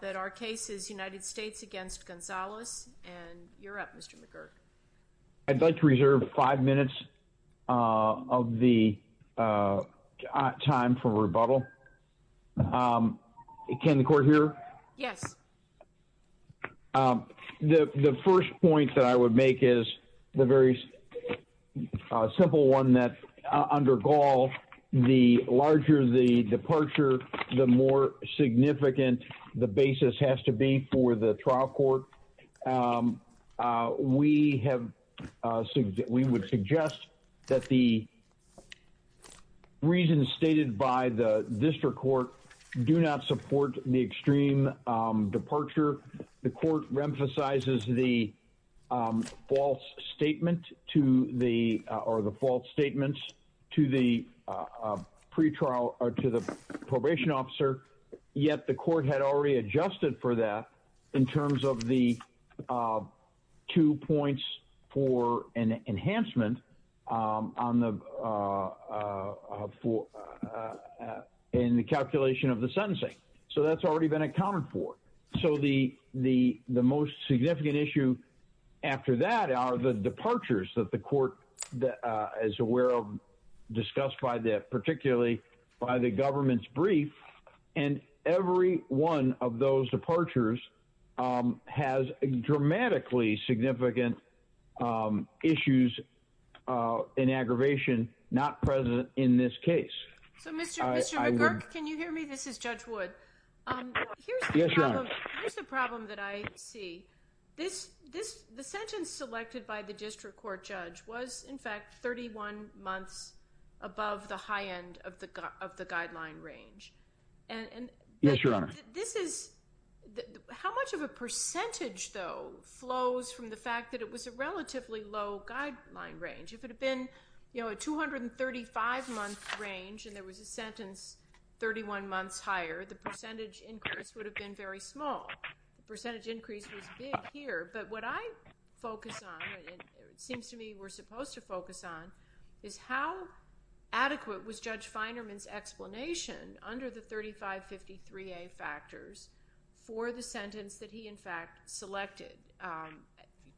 that our case is United States against Gonzalez and you're up Mr. McGurk. I'd like to reserve five minutes of the time for rebuttal. Can the court hear? Yes. The first point that I would make is the very simple one that under Gaul the larger the departure the more significant the basis has to be for the trial court. We have we would suggest that the reasons stated by the district court do not support the extreme departure. The court emphasizes the false statement to the or the false statements to the pre-trial or to the adjusted for that in terms of the two points for an enhancement in the calculation of the sentencing. So that's already been accounted for. So the most significant issue after that are the departures that the court is aware of discussed by that particularly by the government's every one of those departures has dramatically significant issues in aggravation not present in this case. So Mr. McGurk can you hear me? This is Judge Wood. Here's the problem that I see. This this the sentence selected by the district court judge was in fact 31 months above the high of the guideline range. Yes your honor. This is how much of a percentage though flows from the fact that it was a relatively low guideline range. If it had been you know a 235 month range and there was a sentence 31 months higher the percentage increase would have been very small. The percentage increase was big here but what I focus on and it seems to me we're supposed to explanation under the 3553a factors for the sentence that he in fact selected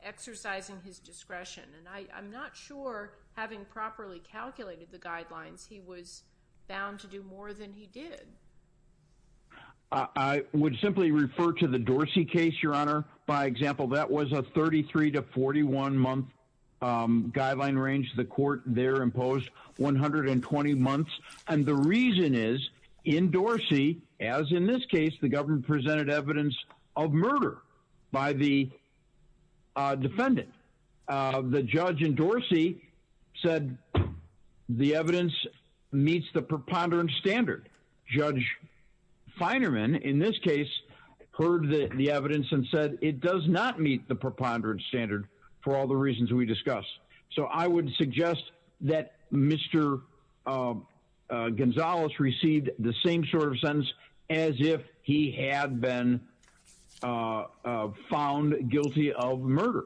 exercising his discretion and I'm not sure having properly calculated the guidelines he was bound to do more than he did. I would simply refer to the Dorsey case your honor by example that was a 33 to 41 month guideline range the court there imposed 120 months and the reason is in Dorsey as in this case the government presented evidence of murder by the defendant. The judge in Dorsey said the evidence meets the preponderance standard. Judge Finerman in this heard the evidence and said it does not meet the preponderance standard for all the reasons we discussed. So I would suggest that Mr. Gonzales received the same sort of sentence as if he had been found guilty of murder.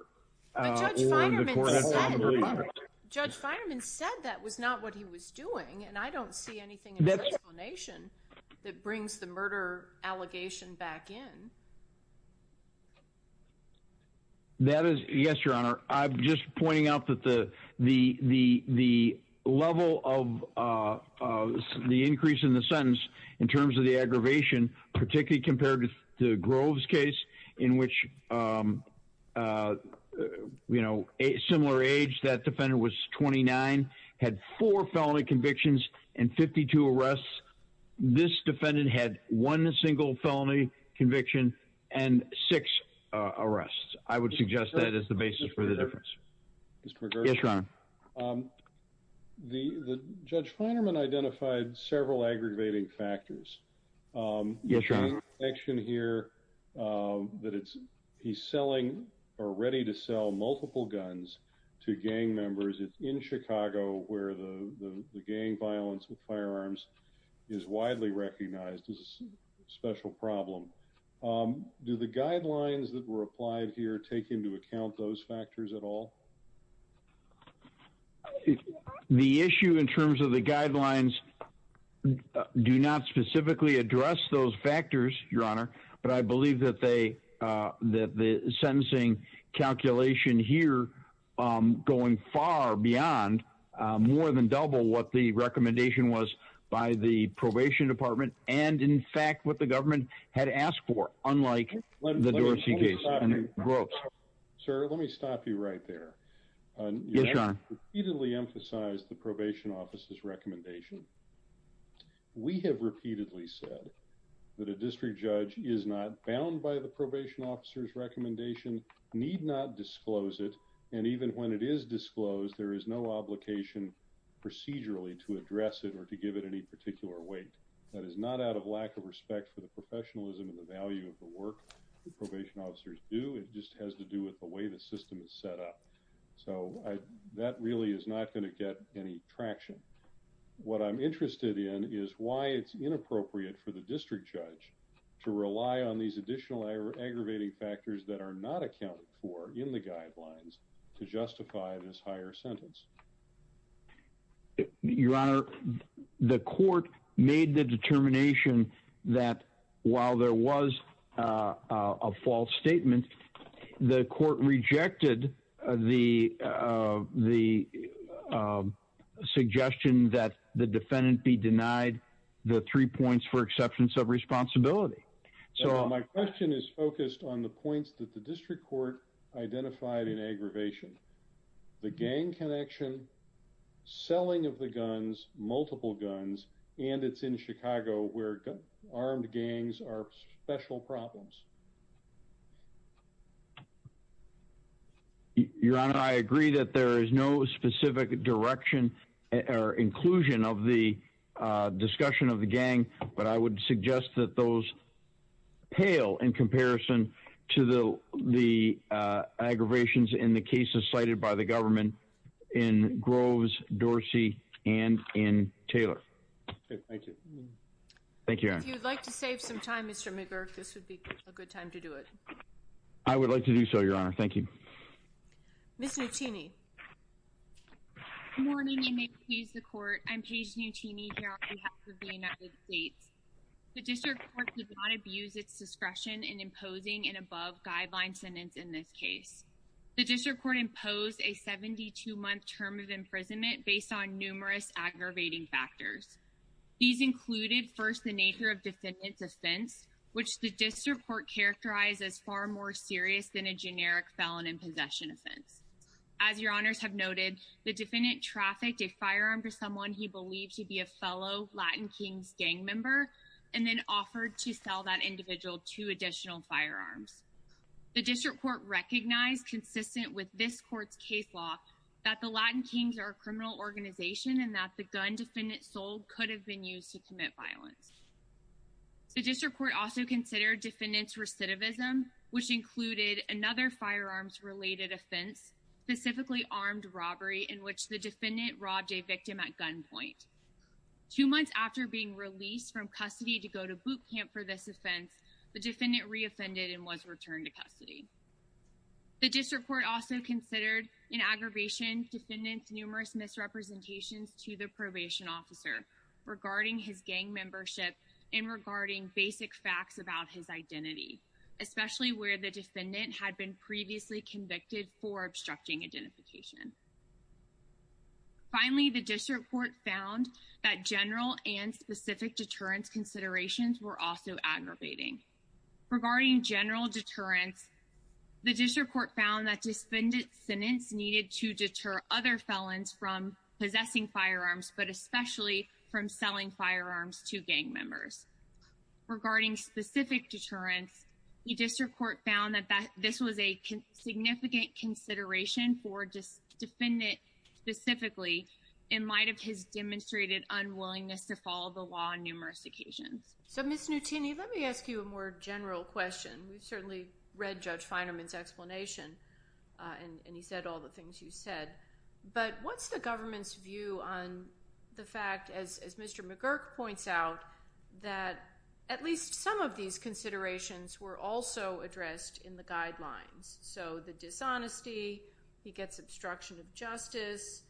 Judge Finerman said that was not what he was doing and I don't see that explanation that brings the murder allegation back in. That is yes your honor. I'm just pointing out that the the the level of the increase in the sentence in terms of the aggravation particularly compared to the Groves case in which you know a similar age that defendant was 29 had four felony convictions and 52 arrests. This defendant had one single felony conviction and six arrests. I would suggest that is the basis for the difference. Yes your honor. The the Judge Finerman identified several aggravating factors. Yes your honor. Section here that it's he's selling or ready to sell multiple guns to gang members. It's in Chicago where the the gang violence with firearms is widely recognized as a special problem. Do the guidelines that were applied here take into account those factors at all? The issue in terms of the guidelines do not specifically address those factors your honor. But I believe that they that the sentencing calculation here going far beyond more than double what the recommendation was by the probation department and in fact what the repeatedly emphasized the probation officer's recommendation. We have repeatedly said that a district judge is not bound by the probation officer's recommendation, need not disclose it, and even when it is disclosed there is no obligation procedurally to address it or to give it any particular weight. That is not out of lack of respect for the professionalism and the value of the work the probation officers do. It just to do with the way the system is set up. So I that really is not going to get any traction. What I'm interested in is why it's inappropriate for the district judge to rely on these additional aggravating factors that are not accounted for in the guidelines to justify this higher sentence. Your honor, the court made the determination that while there was a false statement, the court rejected the suggestion that the defendant be denied the three points for exceptions of responsibility. So my question is focused on the points that the district court identified in aggravation. The gang connection, selling of the guns, multiple guns, and it's in Chicago where armed gangs are special problems. Your honor, I agree that there is no specific direction or inclusion of the discussion of the aggravations in the cases cited by the government in Groves, Dorsey, and in Taylor. Thank you. If you'd like to save some time, Mr. McGurk, this would be a good time to do it. I would like to do so, your honor. Thank you. Ms. Nuttini. Good morning and may it please the court. I'm Paige Nuttini here on behalf of the United States. The district court did not abuse its discretion in imposing an above-guideline sentence in this case. The district court imposed a 72-month term of imprisonment based on numerous aggravating factors. These included first the nature of defendant's offense, which the district court characterized as far more serious than a generic felon in possession offense. As your honors have noted, the defendant trafficked a firearm for someone he believed to be a fellow Latin Kings gang member and then offered to sell that individual two additional firearms. The district court recognized, consistent with this court's case law, that the Latin Kings are a criminal organization and that the gun defendant sold could have been used to commit violence. The district court also considered defendant's recidivism, which included another firearms related offense, specifically armed robbery, in which the defendant robbed a victim at gunpoint. Two months after being released from custody to go to boot camp for this offense, the defendant reoffended and was returned to custody. The district court also considered in aggravation defendant's numerous misrepresentations to the probation officer regarding his gang membership and regarding basic facts about his identity, especially where the defendant had been previously convicted for obstructing identification. Finally, the district court found that general and specific deterrence considerations were also aggravating. Regarding general deterrence, the district court found that defendant's sentence needed to deter other felons from possessing firearms, but especially from selling firearms to gang members. Regarding specific deterrence, the district court found this was a significant consideration for defendant specifically in light of his demonstrated unwillingness to follow the law on numerous occasions. So Ms. Nutini, let me ask you a more general question. We've certainly read Judge Finerman's explanation and he said all the things you said, but what's the government's view on the fact, as Mr. McGurk points out, that at least some of these considerations were also addressed in the guidelines? So the dishonesty, he gets obstruction of justice,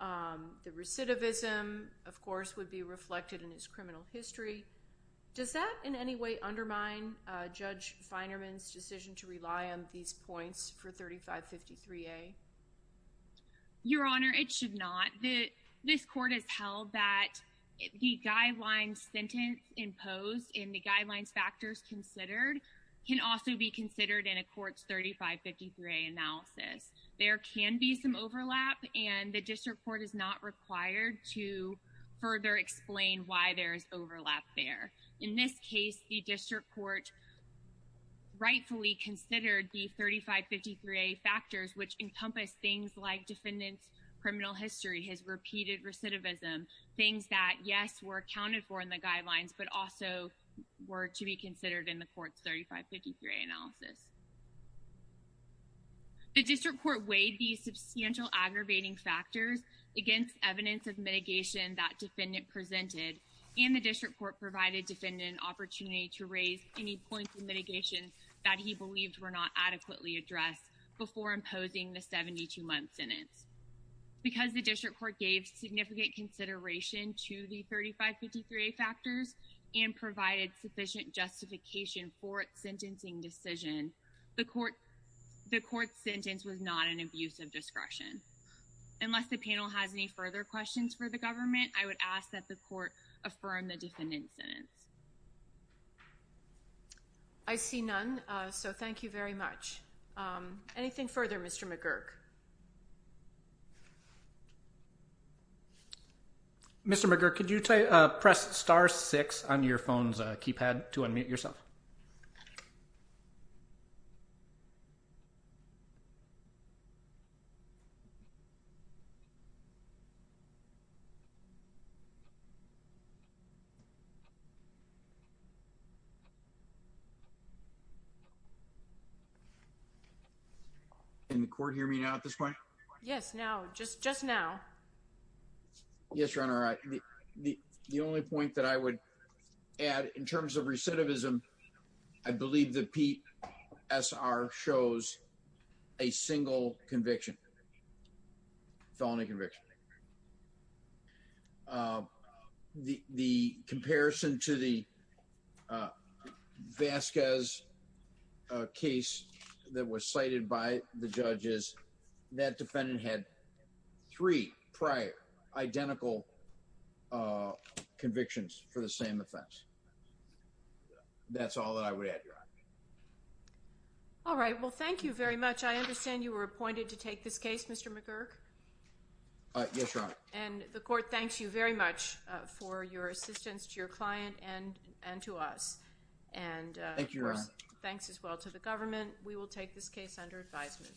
the recidivism, of course, would be reflected in his criminal history. Does that in any way undermine Judge Finerman's decision to rely on these points for 3553A? Your Honor, it should not. This court has held that the guidelines sentence imposed and the guidelines factors considered can also be considered in a court's 3553A analysis. There can be some overlap and the district court is not required to further explain why there is overlap there. In this case, the district court rightfully considered the 3553A factors, which encompass things like defendant's criminal history, his repeated recidivism, things that, yes, were accounted for in the guidelines, but also were to be considered in the court's 3553A analysis. The district court weighed these substantial aggravating factors against evidence of opportunity to raise any points of mitigation that he believed were not adequately addressed before imposing the 72-month sentence. Because the district court gave significant consideration to the 3553A factors and provided sufficient justification for its sentencing decision, the court's sentence was not an abuse of discretion. Unless the panel has any further questions for the government, I would ask that the court affirm the defendant's sentence. I see none, so thank you very much. Anything further, Mr. McGurk? Mr. McGurk, could you press star 6 on your phone's keypad to unmute yourself? Can the court hear me now at this point? Yes, now, just now. Yes, Your Honor, the only point that I would add in terms of recidivism, I believe the PSR shows a single conviction, felony conviction. The comparison to the Vasquez case that was cited by the judges, that defendant had three prior identical convictions for the same offense. That's all that I would add, Your Honor. All right, well, thank you very much. I understand you were appointed to take this case, Mr. McGurk? Yes, Your Honor. And the court thanks you very much for your assistance to your client and to us. Thank you, Your Honor. Thanks as well to the government. We will take this case under advisement.